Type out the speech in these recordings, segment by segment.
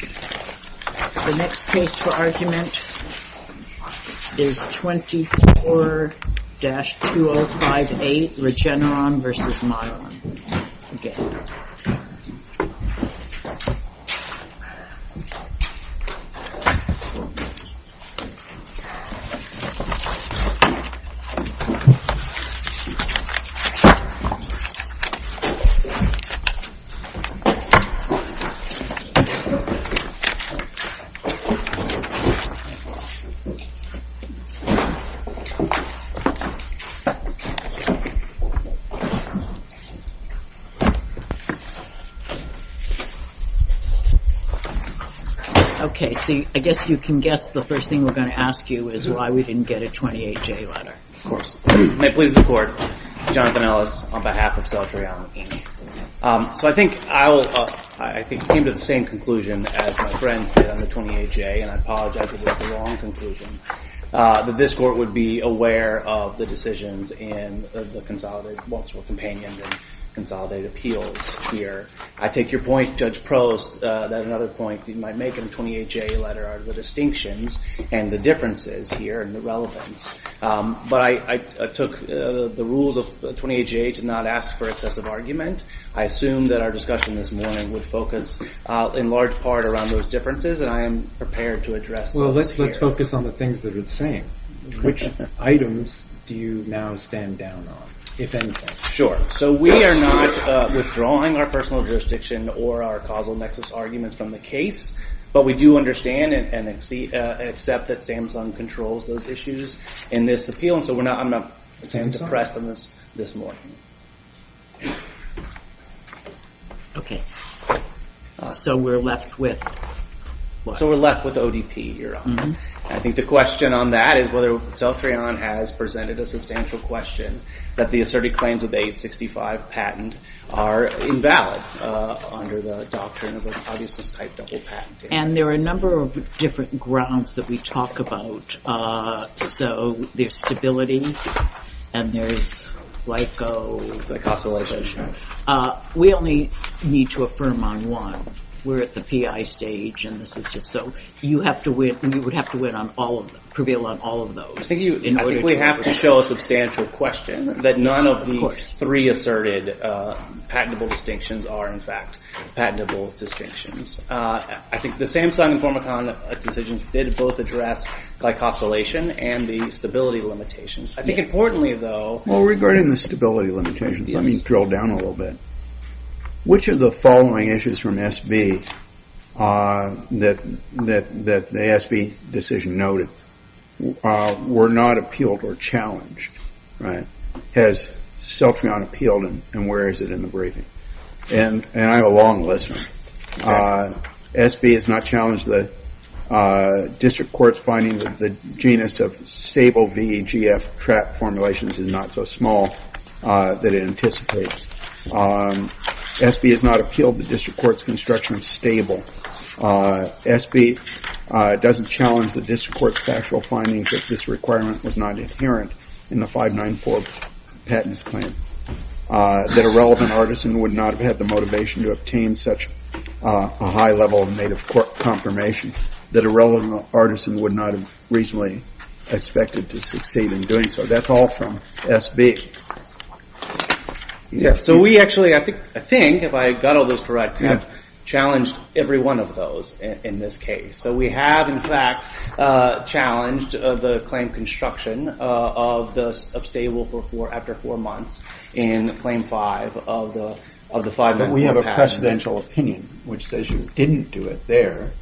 The next case for argument is 24-2058 Regeneron v. Mylan. I guess you can guess the first thing we're going to ask you is why we didn't get a 28-J letter. Of course. May it please the Court, I'm Jonathan Ellis on behalf of Celtrion, Inc. So I think I came to the same conclusion as my friends did on the 28-J, and I apologize if it was a wrong conclusion. That this Court would be aware of the decisions in the consolidated, once we're companioned in consolidated appeals here. I take your point, Judge Prost, that another point you might make in a 28-J letter are the distinctions and the differences here and the relevance. But I took the rules of 28-J to not ask for excessive argument. I assume that our discussion this morning would focus in large part around those differences, and I am prepared to address those here. Well, let's focus on the things that it's saying. Which items do you now stand down on, if anything? Sure. So we are not withdrawing our personal jurisdiction or our causal nexus arguments from the case, but we do understand and accept that Samsung controls those issues in this appeal, and so I'm not saying to press them this morning. Okay. So we're left with what? So we're left with ODP here. I think the question on that is whether Celtrion has presented a substantial question that the asserted claims of the 865 patent are invalid under the doctrine of an obvious type double patent. And there are a number of different grounds that we talk about. So there's stability, and there's LICO. The cost of LICO, sure. We only need to affirm on one. We're at the PI stage, and this is just so. You would have to prevail on all of those. I think we have to show a substantial question that none of the three asserted patentable distinctions are, in fact, patentable distinctions. I think the Samsung and Formicon decisions did both address glycosylation and the stability limitations. I think importantly, though... Well, regarding the stability limitations, let me drill down a little bit. Which of the following issues from SB that the SB decision noted were not appealed or challenged? Has Celtrion appealed, and where is it in the briefing? And I'm a long listener. SB has not challenged the district court's finding that the genus of stable VEGF trap formulations is not so small that it anticipates. SB has not appealed the district court's construction of stable. SB doesn't challenge the district court's factual findings that this requirement was not inherent in the 594 patents claim, that a relevant artisan would not have had the motivation to obtain such a high level of native court confirmation, that a relevant artisan would not have reasonably expected to succeed in doing so. That's all from SB. So we actually, I think, if I got all those correct, have challenged every one of those in this case. So we have, in fact, challenged the claim construction of stable after four months in Claim 5 of the 594 patent. But we have a precedential opinion, which says you didn't do it there.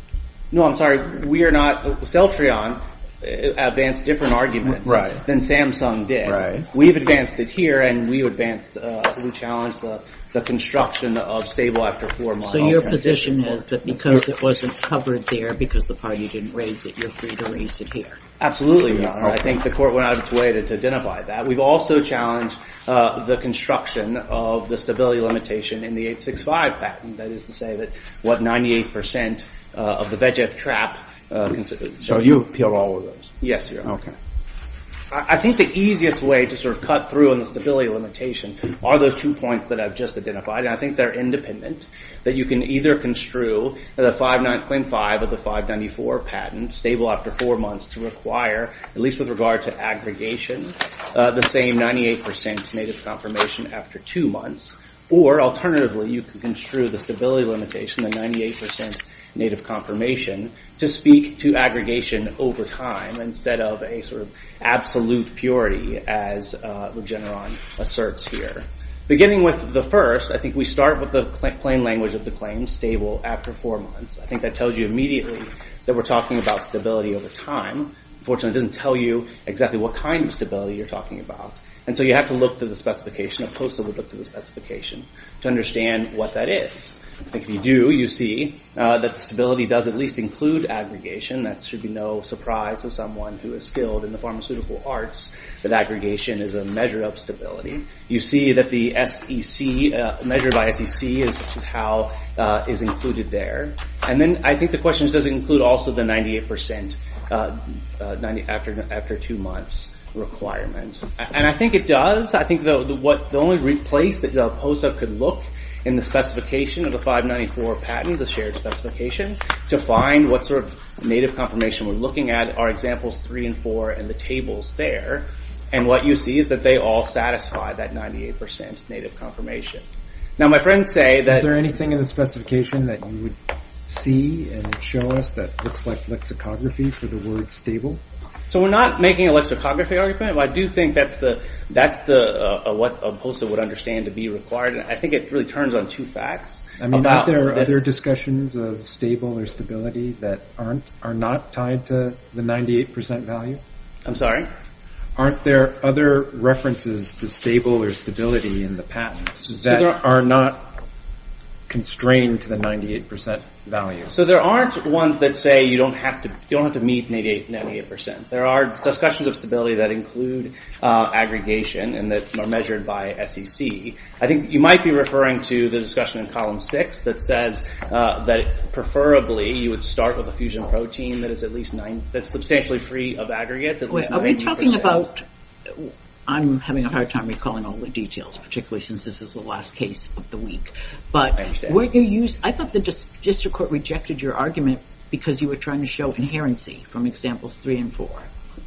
No, I'm sorry. Celtrion advanced different arguments than Samsung did. We've advanced it here, and we challenged the construction of stable after four months. So your position is that because it wasn't covered there, because the party didn't raise it, you're free to raise it here. Absolutely, Your Honor. I think the court went out of its way to identify that. We've also challenged the construction of the stability limitation in the 865 patent. That is to say that, what, 98% of the VEGF trap. So you appealed all of those? Yes, Your Honor. Okay. I think the easiest way to sort of cut through on the stability limitation are those two points that I've just identified. And I think they're independent, that you can either construe the 595 of the 594 patent, stable after four months, to require, at least with regard to aggregation, the same 98% native confirmation after two months. Or, alternatively, you can construe the stability limitation, the 98% native confirmation, to speak to aggregation over time, instead of a sort of absolute purity, as Regeneron asserts here. Beginning with the first, I think we start with the plain language of the claim, stable after four months. I think that tells you immediately that we're talking about stability over time. Unfortunately, it doesn't tell you exactly what kind of stability you're talking about. And so you have to look through the specification, a postable look through the specification, to understand what that is. I think if you do, you see that stability does at least include aggregation. That should be no surprise to someone who is skilled in the pharmaceutical arts, that aggregation is a measure of stability. You see that the SEC, measured by SEC, is how it's included there. And then I think the question is, does it include also the 98% after two months requirement? And I think it does. I think the only place that POSA could look in the specification of the 594 patent, the shared specification, to find what sort of native confirmation we're looking at, are examples three and four in the tables there. And what you see is that they all satisfy that 98% native confirmation. Now my friends say that... Is there anything in the specification that you would see and show us that looks like lexicography for the word stable? So we're not making a lexicography argument, but I do think that's what POSA would understand to be required. I think it really turns on two facts. I mean, aren't there other discussions of stable or stability that are not tied to the 98% value? I'm sorry? Aren't there other references to stable or stability in the patent that are not constrained to the 98% value? So there aren't ones that say you don't have to meet 98%. There are discussions of stability that include aggregation and that are measured by SEC. I think you might be referring to the discussion in column six that says that preferably you would start with a fusion protein that's substantially free of aggregates. Are we talking about... I'm having a hard time recalling all the details, particularly since this is the last case of the week. I thought the district court rejected your argument because you were trying to show inherency from examples three and four.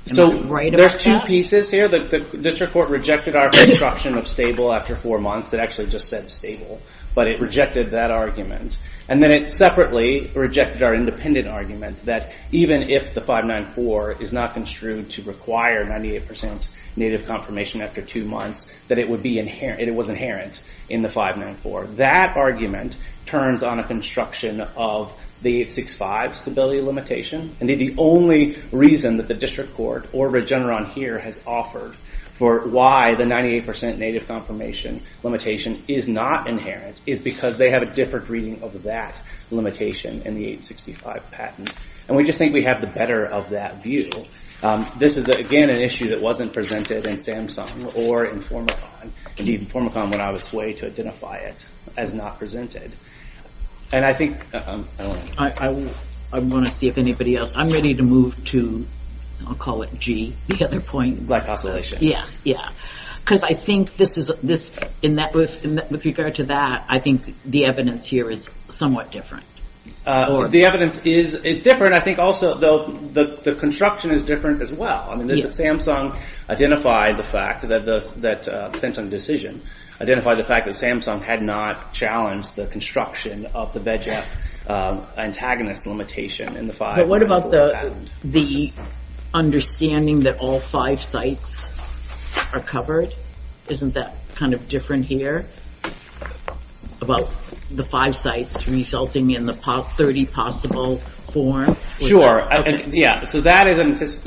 So there's two pieces here. The district court rejected our construction of stable after four months. It actually just said stable, but it rejected that argument. And then it separately rejected our independent argument that even if the 594 is not construed to require 98% native confirmation after two months, that it was inherent in the 594. That argument turns on a construction of the 865 stability limitation. Indeed, the only reason that the district court or Regeneron here has offered for why the 98% native confirmation limitation is not inherent is because they have a different reading of that limitation in the 865 patent. And we just think we have the better of that view. This is, again, an issue that wasn't presented in Samsung or Informacon. Indeed, Informacon went out of its way to identify it as not presented. And I think... I want to see if anybody else... I'm ready to move to... I'll call it G, the other point. Glycosylation. Yeah. Because I think this is... With regard to that, I think the evidence here is somewhat different. The evidence is different. I think also the construction is different as well. Samsung identified the fact that... The Samsung decision identified the fact that Samsung had not challenged the construction of the VEGF antagonist limitation in the 594 patent. What about the understanding that all five sites are covered? Isn't that kind of different here? About the five sites resulting in the 30 possible forms? Sure. Yeah. So that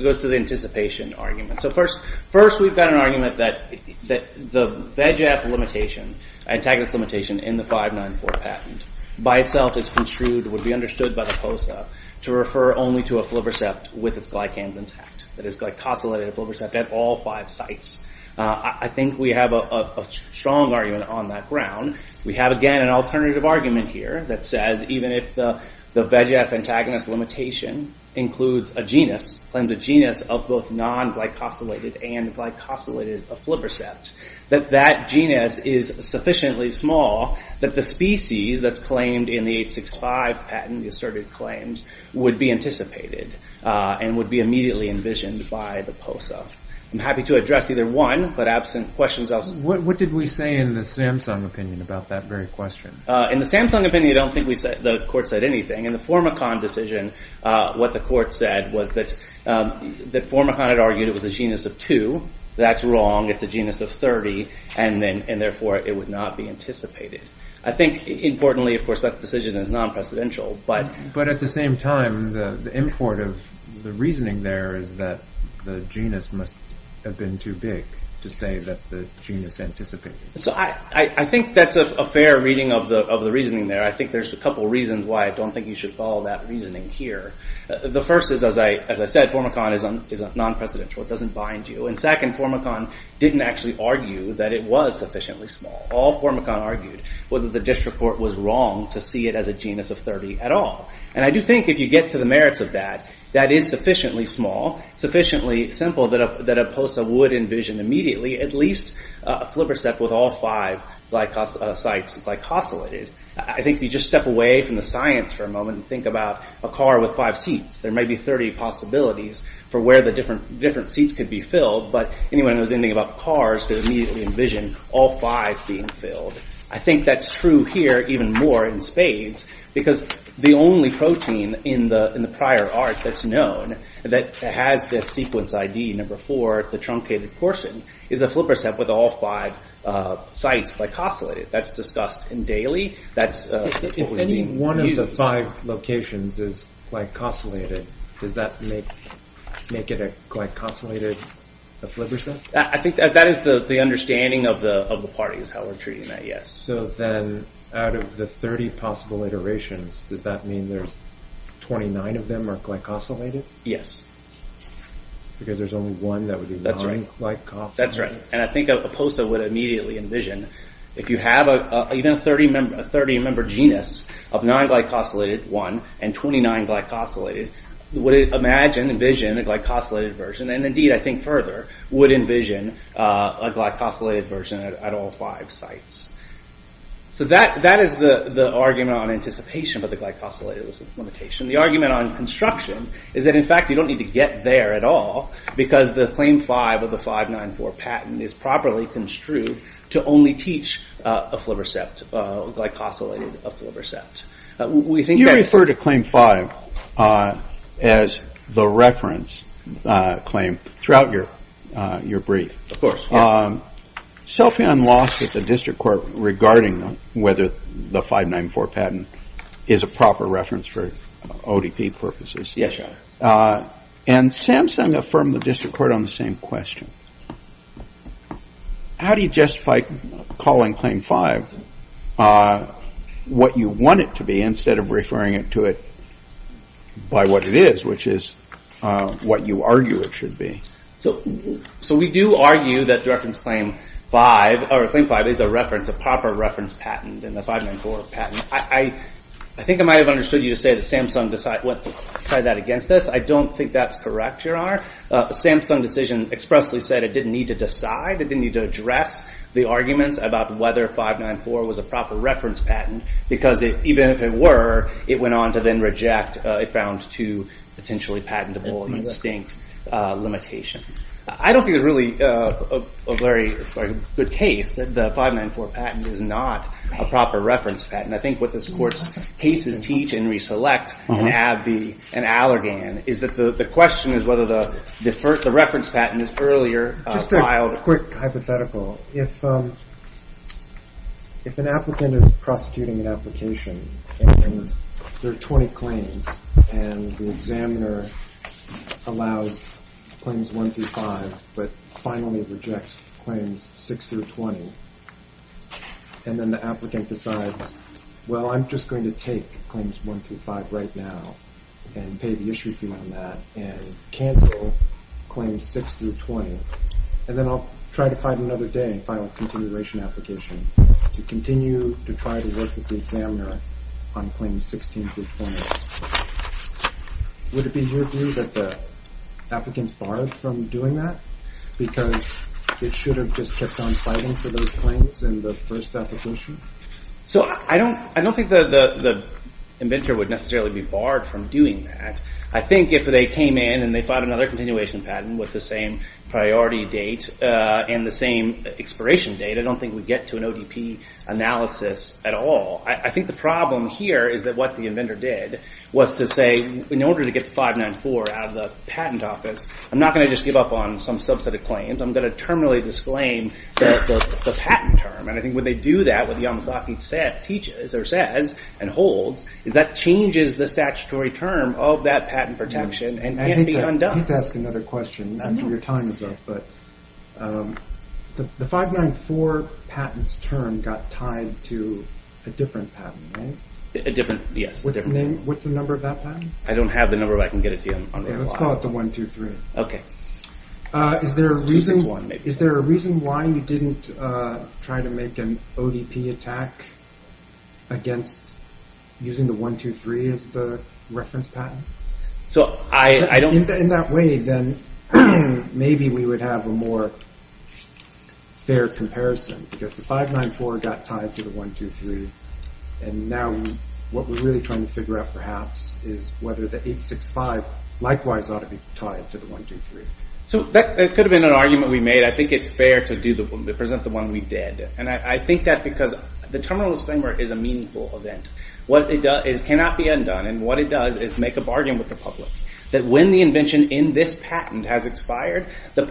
goes to the anticipation argument. So first we've got an argument that the VEGF antagonist limitation in the 594 patent by itself is construed, would be understood by the POSA, to refer only to a flibbersept with its glycans intact. That is glycosylated flibbersept at all five sites. I think we have a strong argument on that ground. We have again an alternative argument here that says even if the VEGF antagonist limitation includes a genus, claims a genus of both non-glycosylated and glycosylated flibbersept, that that genus is sufficiently small that the species that's claimed in the 865 patent, the asserted claims, would be anticipated and would be immediately envisioned by the POSA. I'm happy to address either one, but absent questions, I'll... What did we say in the Samsung opinion about that very question? In the Samsung opinion, I don't think the court said anything. In the Formicon decision, what the court said was that Formicon had argued it was a genus of two. That's wrong. It's a genus of 30, and therefore it would not be anticipated. I think importantly, of course, that decision is non-precedential, but... But at the same time, the import of the reasoning there is that the genus must have been too big to say that the genus anticipated. I think that's a fair reading of the reasoning there. I think there's a couple of reasons why I don't think you should follow that reasoning here. The first is, as I said, Formicon is non-precedential. It doesn't bind you. And second, Formicon didn't actually argue that it was sufficiently small. All Formicon argued was that the district court was wrong to see it as a genus of 30 at all. And I do think if you get to the merits of that, that is sufficiently small, sufficiently simple, that a POSA would envision immediately at least a flipper step with all five sites glycosylated. I think if you just step away from the science for a moment and think about a car with five seats, there may be 30 possibilities for where the different seats could be filled, but anyone who knows anything about cars could immediately envision all five being filled. I think that's true here even more in spades, because the only protein in the prior art that's known that has this sequence ID number four, the truncated portion, is a flipper step with all five sites glycosylated. That's discussed daily. If any one of the five locations is glycosylated, does that make it a glycosylated flipper step? I think that is the understanding of the parties, how we're treating that, yes. So then out of the 30 possible iterations, does that mean there's 29 of them are glycosylated? Yes. Because there's only one that would be non-glycosylated? That's right. And I think a POSA would immediately envision, if you have even a 30-member genus of non-glycosylated one and 29 glycosylated, would imagine, envision a glycosylated version, and indeed, I think further, would envision a glycosylated version at all five sites. So that is the argument on anticipation for the glycosylated limitation. The argument on construction is that, in fact, you don't need to get there at all, because the Claim 5 of the 594 patent is properly construed to only teach a flipper step, glycosylated flipper step. You refer to Claim 5 as the reference claim throughout your brief. Of course. Selfie on loss at the district court regarding whether the 594 patent is a proper reference for ODP purposes. Yes, Your Honor. And Samsung affirmed the district court on the same question. How do you justify calling Claim 5 what you want it to be instead of referring it to it by what it is, which is what you argue it should be? So we do argue that the reference Claim 5 is a reference, a proper reference patent in the 594 patent. I think I might have understood you to say that Samsung decided that against us. I don't think that's correct, Your Honor. The Samsung decision expressly said it didn't need to decide, it didn't need to address the arguments about whether 594 was a proper reference patent, because even if it were, it went on to then reject, it found two potentially patentable and distinct limitations. I don't think it's really a very good case that the 594 patent is not a proper reference patent. I think what this Court's cases teach in Reselect and Abbey and Allergan is that the question is whether the reference patent is earlier filed. Just a quick hypothetical. If an applicant is prosecuting an application and there are 20 claims and the examiner allows Claims 1 through 5 but finally rejects Claims 6 through 20, and then the applicant decides, well, I'm just going to take Claims 1 through 5 right now and pay the issue fee on that and cancel Claims 6 through 20, and then I'll try to find another day and file a continuation application to continue to try to work with the examiner on Claims 16 through 20. Would it be your view that the applicants barred from doing that because it should have just kept on fighting for those claims in the first application? So I don't think the inventor would necessarily be barred from doing that. I think if they came in and they filed another continuation patent with the same priority date and the same expiration date, I don't think we'd get to an ODP analysis at all. I think the problem here is that what the inventor did was to say, in order to get the 594 out of the patent office, I'm not going to just give up on some subset of claims. I'm going to terminally disclaim the patent term. And I think when they do that, what Yamazaki teaches or says and holds is that changes the statutory term of that patent protection and can't be undone. I hate to ask another question after your time is up, but the 594 patent's term got tied to a different patent, right? A different, yes. What's the number of that patent? I don't have the number, but I can get it to you. Let's call it the 123. Okay. Is there a reason why you didn't try to make an ODP attack against using the 123 as the reference patent? In that way, then, maybe we would have a more fair comparison because the 594 got tied to the 123, and now what we're really trying to figure out perhaps is whether the 865 likewise ought to be tied to the 123. That could have been an argument we made. I think it's fair to present the one we did. I think that because the terminal disclaimer is a meaningful event. What it does is it cannot be undone, and what it does is make a bargain with the public that when the invention in this patent has expired, the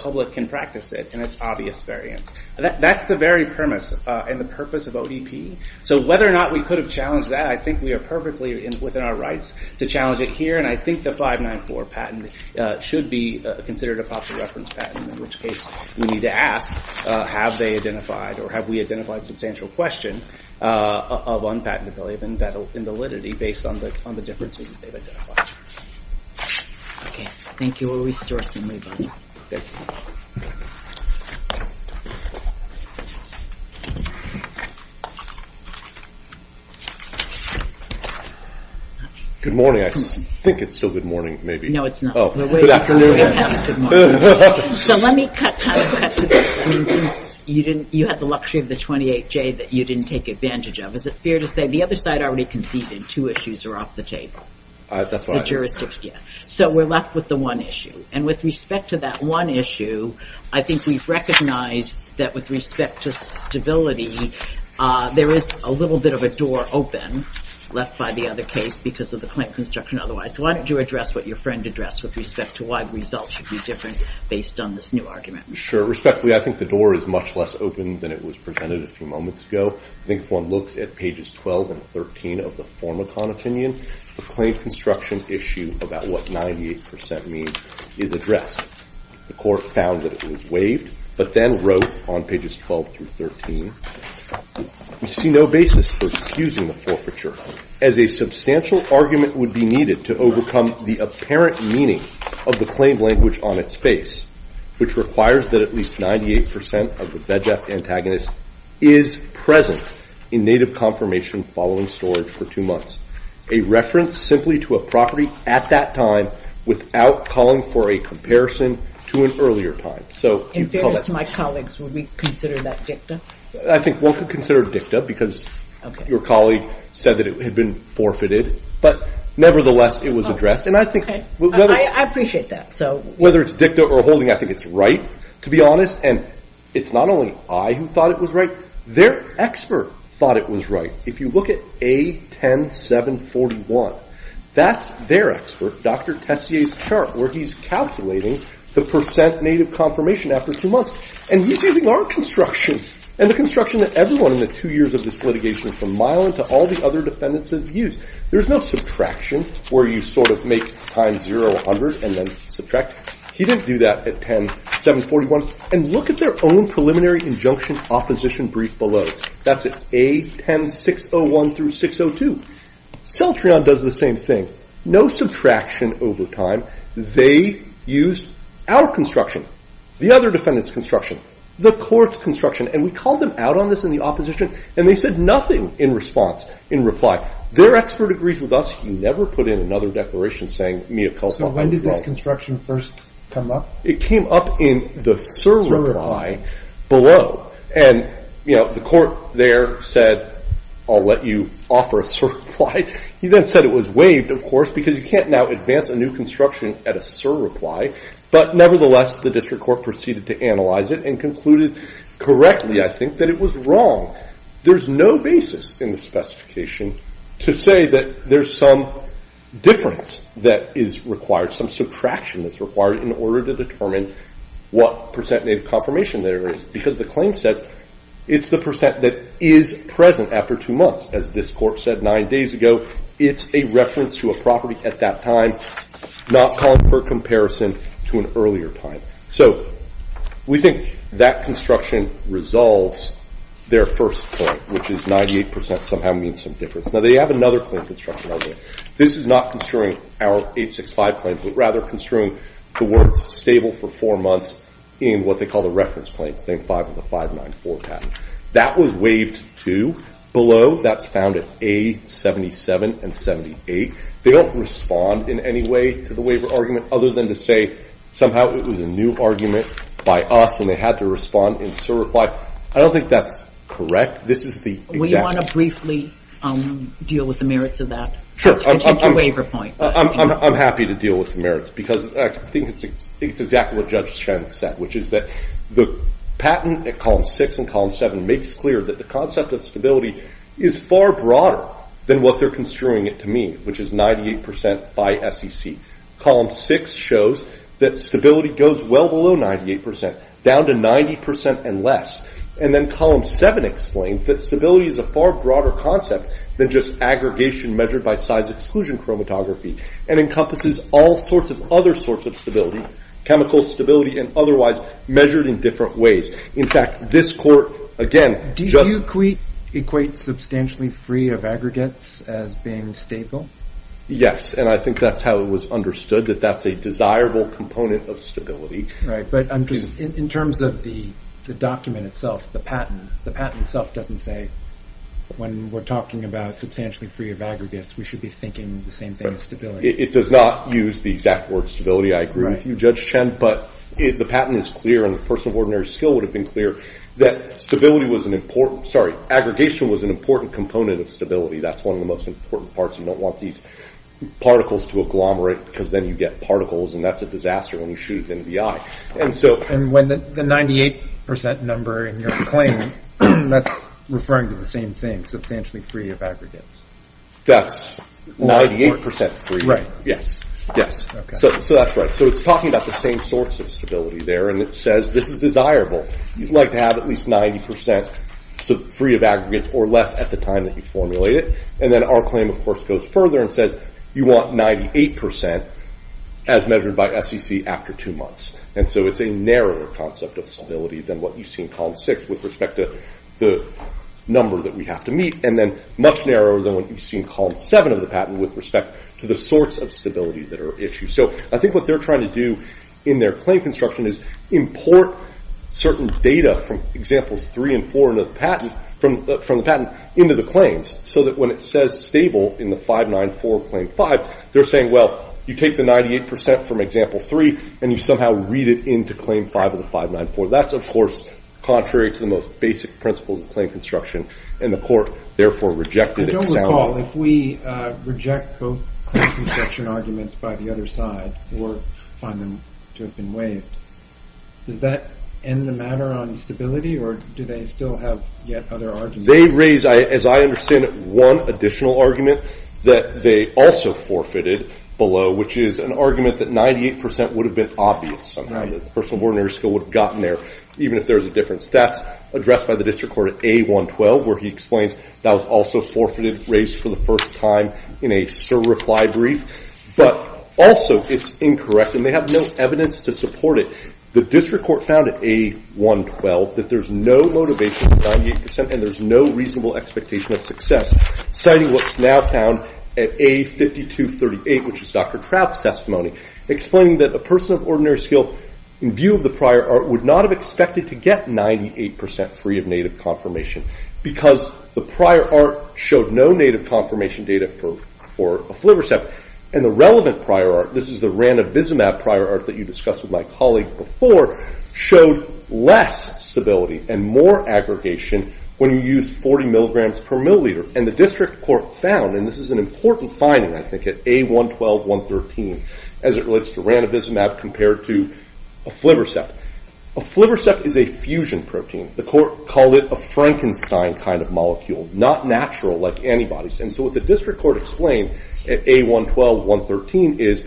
public can practice it, and it's obvious variance. That's the very premise and the purpose of ODP. So whether or not we could have challenged that, I think we are perfectly within our rights to challenge it here, and I think the 594 patent should be considered a popular reference patent, in which case we need to ask have they identified or have we identified substantial question of unpatentability and validity based on the differences that they've identified. Okay, thank you. We'll restore some leeway. Good morning. I think it's still good morning, maybe. No, it's not. Oh, good afternoon. So let me cut to this. You had the luxury of the 28J that you didn't take advantage of. Is it fair to say the other side already conceded two issues are off the table? That's right. So we're left with the one issue, and with respect to that one issue, I think we've recognized that with respect to stability, there is a little bit of a door open left by the other case because of the plant construction otherwise. Why don't you address what your friend addressed with respect to why the results should be different based on this new argument? Sure. Respectfully, I think the door is much less open than it was presented a few moments ago. I think if one looks at pages 12 and 13 of the former con opinion, the claim construction issue about what 98% means is addressed. The court found that it was waived but then wrote on pages 12 through 13, we see no basis for accusing the forfeiture as a substantial argument would be needed to overcome the apparent meaning of the claim language on its face, which requires that at least 98% of the BEJF antagonist is present in native confirmation following storage for two months, a reference simply to a property at that time without calling for a comparison to an earlier time. In fairness to my colleagues, would we consider that dicta? I think one could consider dicta because your colleague said that it had been forfeited, but nevertheless it was addressed. I appreciate that. Whether it's dicta or holding, I think it's right to be honest, and it's not only I who thought it was right. Their expert thought it was right. If you look at A10741, that's their expert, Dr. Tessier's chart, where he's calculating the percent native confirmation after two months, and he's using our construction and the construction that everyone in the two years of this litigation from Milan to all the other defendants have used. There's no subtraction where you sort of make time 0, 100, and then subtract. He didn't do that at 10741. And look at their own preliminary injunction opposition brief below. That's at A10601-602. Celtrion does the same thing. No subtraction over time. They used our construction, the other defendants' construction, the court's construction, and we called them out on this in the opposition, and they said nothing in response, in reply. Their expert agrees with us. He never put in another declaration saying Mia Celtrion was wrong. So when did this construction first come up? It came up in the surreply below. And the court there said, I'll let you offer a surreply. He then said it was waived, of course, because you can't now advance a new construction at a surreply. But nevertheless, the district court proceeded to analyze it and concluded correctly, I think, that it was wrong. There's no basis in the specification to say that there's some difference that is required, some subtraction that's required in order to determine what percent native confirmation there is, because the claim says it's the percent that is present after two months. As this court said nine days ago, it's a reference to a property at that time, not calling for comparison to an earlier time. So we think that construction resolves their first point, which is 98% somehow means some difference. Now, they have another claim construction argument. This is not construing our 865 claims, but rather construing the words stable for four months in what they call the reference claim, claim 5 of the 594 patent. That was waived too. Below, that's found at A-77 and 78. They don't respond in any way to the waiver argument, other than to say somehow it was a new argument by us and they had to respond in sort of reply. I don't think that's correct. This is the exact... We want to briefly deal with the merits of that. Sure. And take your waiver point. I'm happy to deal with the merits, because I think it's exactly what Judge Schen said, which is that the patent at column 6 and column 7 makes clear that the concept of stability is far broader than what they're construing it to mean, which is 98% by SEC. Column 6 shows that stability goes well below 98%, down to 90% and less. And then column 7 explains that stability is a far broader concept than just aggregation measured by size exclusion chromatography and encompasses all sorts of other sorts of stability, chemical stability and otherwise measured in different ways. In fact, this court, again, just... Do you equate substantially free of aggregates as being stable? Yes, and I think that's how it was understood, that that's a desirable component of stability. Right, but in terms of the document itself, the patent, the patent itself doesn't say, when we're talking about substantially free of aggregates, we should be thinking the same thing as stability. It does not use the exact word stability. I agree with you, Judge Schen, but the patent is clear and the person of ordinary skill would have been clear that stability was an important... Sorry, aggregation was an important component of stability. That's one of the most important parts. You don't want these particles to agglomerate because then you get particles, and that's a disaster when you shoot them in the eye. And when the 98% number in your claim, that's referring to the same thing, substantially free of aggregates. That's 98% free. Yes, yes. So that's right. So it's talking about the same sorts of stability there, and it says this is desirable. You'd like to have at least 90% free of aggregates or less at the time that you formulate it. And then our claim, of course, goes further and says you want 98% as measured by SEC after two months. And so it's a narrower concept of stability than what you see in column six with respect to the number that we have to meet, and then much narrower than what you see in column seven of the patent with respect to the sorts of stability that are issued. So I think what they're trying to do in their claim construction is import certain data from examples three and four of the patent into the claims, so that when it says stable in the 594 of claim five, they're saying, well, you take the 98% from example three and you somehow read it into claim five of the 594. That's, of course, contrary to the most basic principles of claim construction, and the court therefore rejected it soundly. I don't recall if we reject both claim construction arguments by the other side or find them to have been waived. Does that end the matter on stability, or do they still have yet other arguments? They raise, as I understand it, one additional argument that they also forfeited below, which is an argument that 98% would have been obvious somehow that the person of ordinary skill would have gotten there, even if there was a difference. That's addressed by the district court at A112, where he explains that was also forfeited, raised for the first time in a certify brief. But also it's incorrect, and they have no evidence to support it. The district court found at A112 that there's no motivation for 98%, and there's no reasonable expectation of success, citing what's now found at A5238, which is Dr. Trout's testimony, explaining that a person of ordinary skill, in view of the prior art, would not have expected to get 98% free of native confirmation because the prior art showed no native confirmation data for a flip or step. And the relevant prior art, this is the ran abysmab prior art that you discussed with my colleague before, showed less stability and more aggregation when you used 40 milligrams per milliliter. And the district court found, and this is an important finding, I think, at A112, 113, as it relates to ran abysmab compared to a flip or step. A flip or step is a fusion protein. The court called it a Frankenstein kind of molecule, not natural like antibodies. And so what the district court explained at A112, 113, is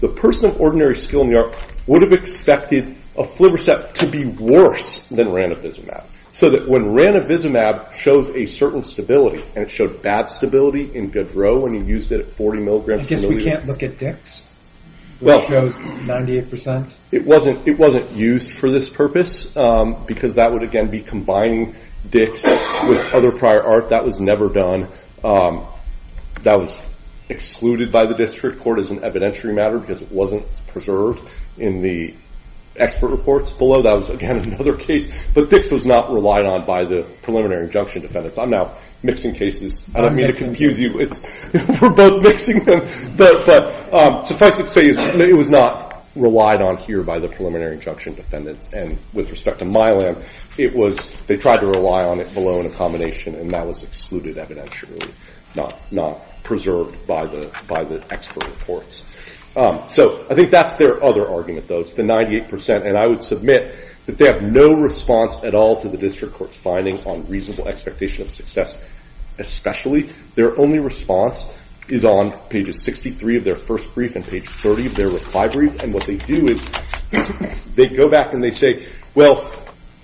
the person of ordinary skill in the art would have expected a flip or step to be worse than ran abysmab. So that when ran abysmab shows a certain stability, and it showed bad stability in Gaudreau when he used it at 40 milligrams per milliliter. I guess we can't look at Dix, which shows 98%. It wasn't used for this purpose because that would, again, be combining Dix with other prior art. That was never done. That was excluded by the district court as an evidentiary matter because it wasn't preserved in the expert reports below. That was, again, another case. But Dix was not relied on by the preliminary injunction defendants. I'm now mixing cases. I don't mean to confuse you. We're both mixing them. But suffice it to say, it was not relied on here by the preliminary injunction defendants. And with respect to myelin, they tried to rely on it below in a combination, and that was excluded evidentially, not preserved by the expert reports. So I think that's their other argument, though. It's the 98%. And I would submit that they have no response at all to the district court's findings on reasonable expectation of success, especially their only response is on pages 63 of their first brief and page 30 of their reply brief. And what they do is they go back and they say, well,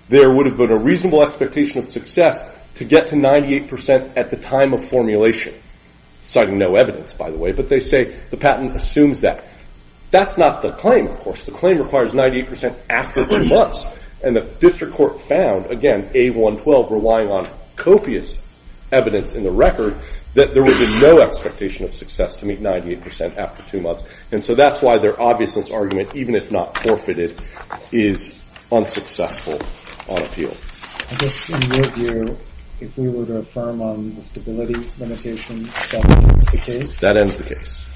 there would have been a reasonable expectation of success to get to 98% at the time of formulation, citing no evidence, by the way. But they say the patent assumes that. That's not the claim, of course. The claim requires 98% after two months. And the district court found, again, A112 relying on copious evidence in the record, that there would be no expectation of success to meet 98% after two months. And so that's why their obviousness argument, even if not forfeited, is unsuccessful on appeal. I guess in your view, if we were to affirm on the stability limitation, that ends the case? That ends the case.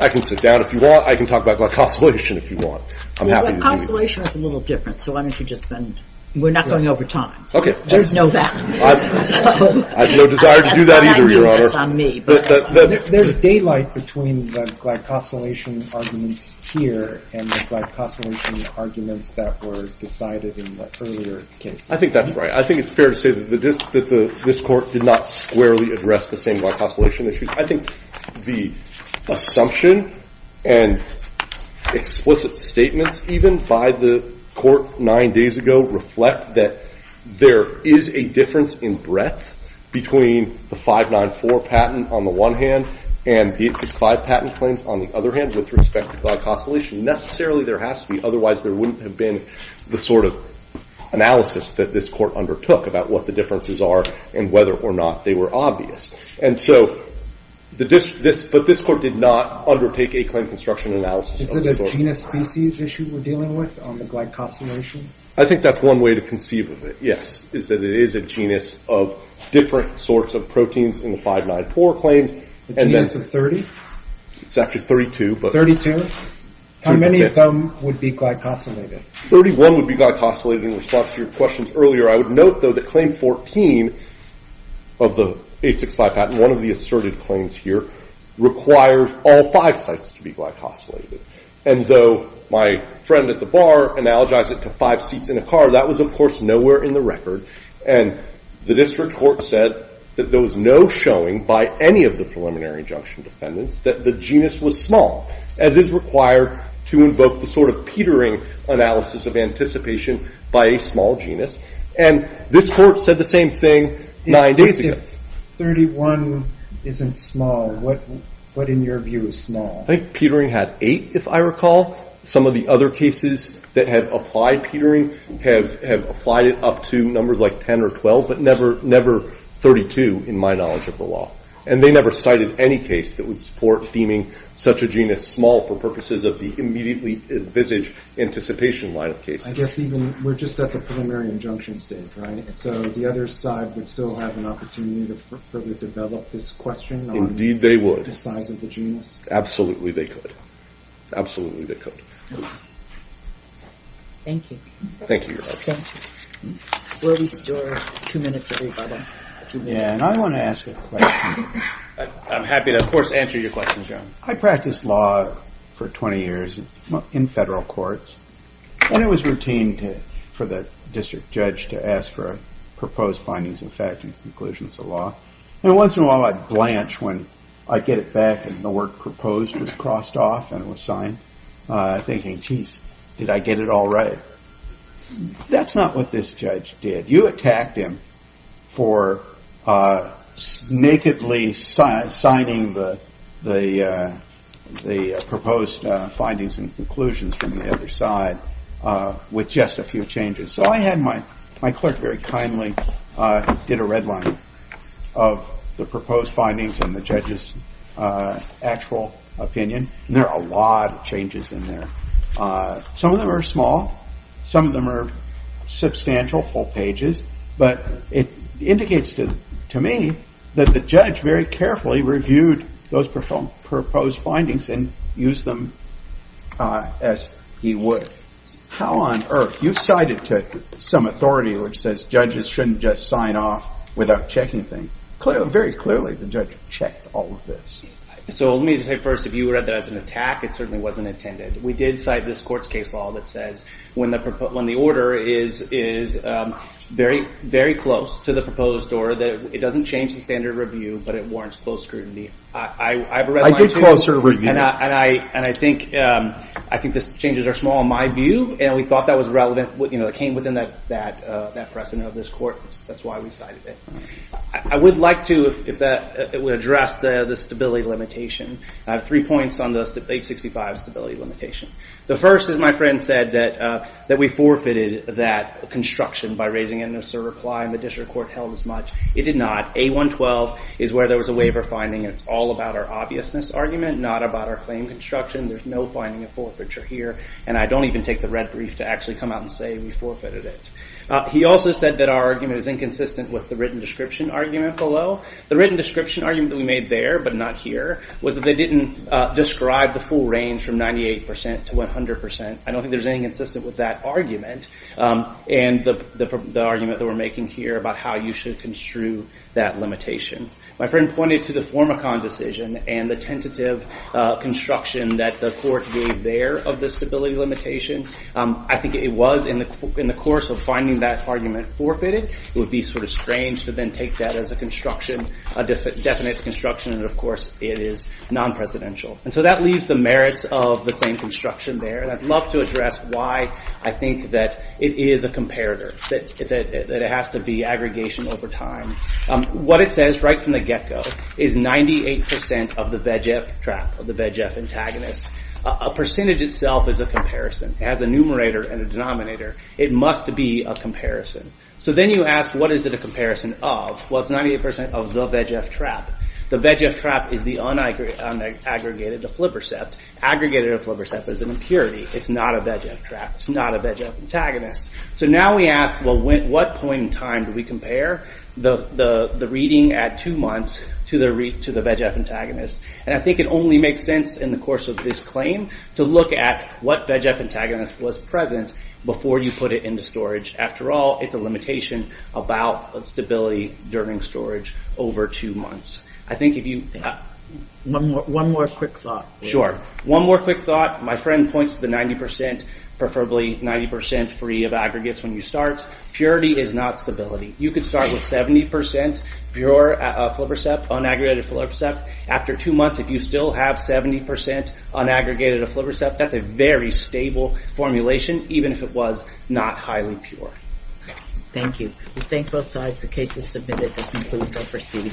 I can sit down if you want. I can talk about glycosylation if you want. I'm happy to do that. Well, glycosylation is a little different. So why don't you just spend? We're not going over time. OK. There's no value. I have no desire to do that either, Your Honor. That's why I knew it was on me. There's daylight between the glycosylation arguments here and the glycosylation arguments that were decided in the earlier case. I think that's right. I think it's fair to say that this court did not squarely address the same glycosylation issues. I think the assumption and explicit statements, even by the court nine days ago, reflect that there is a difference in breadth between the 594 patent on the one hand and the 865 patent claims on the other hand, with respect to glycosylation. Necessarily, there has to be. And the sort of analysis that this court undertook about what the differences are and whether or not they were obvious. And so this court did not undertake a claim construction analysis of the source. Is it a genus species issue we're dealing with on the glycosylation? I think that's one way to conceive of it, yes, is that it is a genus of different sorts of proteins in the 594 claims. A genus of 30? It's actually 32. 32? How many of them would be glycosylated? 31 would be glycosylated in response to your questions earlier. I would note, though, that claim 14 of the 865 patent, one of the asserted claims here, requires all five sites to be glycosylated. And though my friend at the bar analogized it to five seats in a car, that was, of course, nowhere in the record. And the district court said that there was no showing by any of the preliminary injunction defendants that the genus was small. As is required to invoke the sort of Petering analysis of anticipation by a small genus. And this court said the same thing nine days ago. If 31 isn't small, what in your view is small? I think Petering had eight, if I recall. Some of the other cases that have applied Petering have applied it up to numbers like 10 or 12, but never 32 in my knowledge of the law. And they never cited any case that would support deeming such a genus small for purposes of the immediately envisaged anticipation line of cases. I guess even, we're just at the preliminary injunction stage, right? So the other side would still have an opportunity to further develop this question on the size of the genus? Absolutely they could. Absolutely they could. Thank you. Thank you, Your Honor. Thank you. We'll restore two minutes everybody. Yeah, and I want to ask a question. I'm happy to, of course, answer your questions, Your Honor. I practiced law for 20 years in federal courts. And it was routine for the district judge to ask for proposed findings of fact and conclusions of law. And once in a while I'd blanch when I'd get it back and the word proposed was crossed off and it was signed, thinking, jeez, did I get it all right? That's not what this judge did. You attacked him for nakedly signing the proposed findings and conclusions from the other side with just a few changes. So I had my clerk very kindly did a red line of the proposed findings and the judge's actual opinion. And there are a lot of changes in there. Some of them are small. Some of them are substantial, full pages. But it indicates to me that the judge very carefully reviewed those proposed findings and used them as he would. How on earth? You cited some authority which says judges shouldn't just sign off without checking things. Very clearly the judge checked all of this. So let me just say first, if you read that as an attack, it certainly wasn't intended. We did cite this court's case law that says when the order is very, very close to the proposed order, that it doesn't change the standard review, but it warrants close scrutiny. I have a red line, too. I did close a review. And I think the changes are small in my view. And we thought that was relevant. It came within that precedent of this court. That's why we cited it. I would like to, if that would address the stability limitation. I have three points on the 865 stability limitation. The first is my friend said that we forfeited that construction by raising it in a server ply and the district court held as much. It did not. A112 is where there was a waiver finding. And it's all about our obviousness argument, not about our claim construction. There's no finding of forfeiture here. And I don't even take the red brief to actually come out and say we forfeited it. He also said that our argument is inconsistent with the written description argument below. The written description argument that we made there, but not here, was that they didn't describe the full range from 98% to 100%. I don't think there's anything consistent with that argument. And the argument that we're making here about how you should construe that limitation. My friend pointed to the Formicon decision and the tentative construction that the court gave there of the stability limitation. I think it was in the course of finding that argument forfeited, it would be sort of strange to then take that as a construction, a definite construction and of course it is non-presidential. And so that leaves the merits of the claim construction there. And I'd love to address why I think that it is a comparator. That it has to be aggregation over time. What it says right from the get-go is 98% of the VEGF trap, of the VEGF antagonist. A percentage itself is a comparison. As a numerator and a denominator, it must be a comparison. So then you ask what is it a comparison of? Well it's 98% of the VEGF trap. The VEGF trap is the unaggregated to flipper sept. Aggregated to flipper sept is an impurity. It's not a VEGF trap, it's not a VEGF antagonist. So now we ask, well what point in time do we compare the reading at two months to the VEGF antagonist? And I think it only makes sense in the course of this claim to look at what VEGF antagonist was present before you put it into storage. After all, it's a limitation about stability during storage over two months. I think if you... One more quick thought. Sure. One more quick thought. My friend points to the 90%, preferably 90% free of aggregates when you start. Purity is not stability. You could start with 70% pure flipper sept, unaggregated flipper sept. After two months, if you still have 70% unaggregated flipper sept, that's a very stable formulation, even if it was not highly pure. Thank you. We thank both sides. The case is submitted. That concludes our proceeding.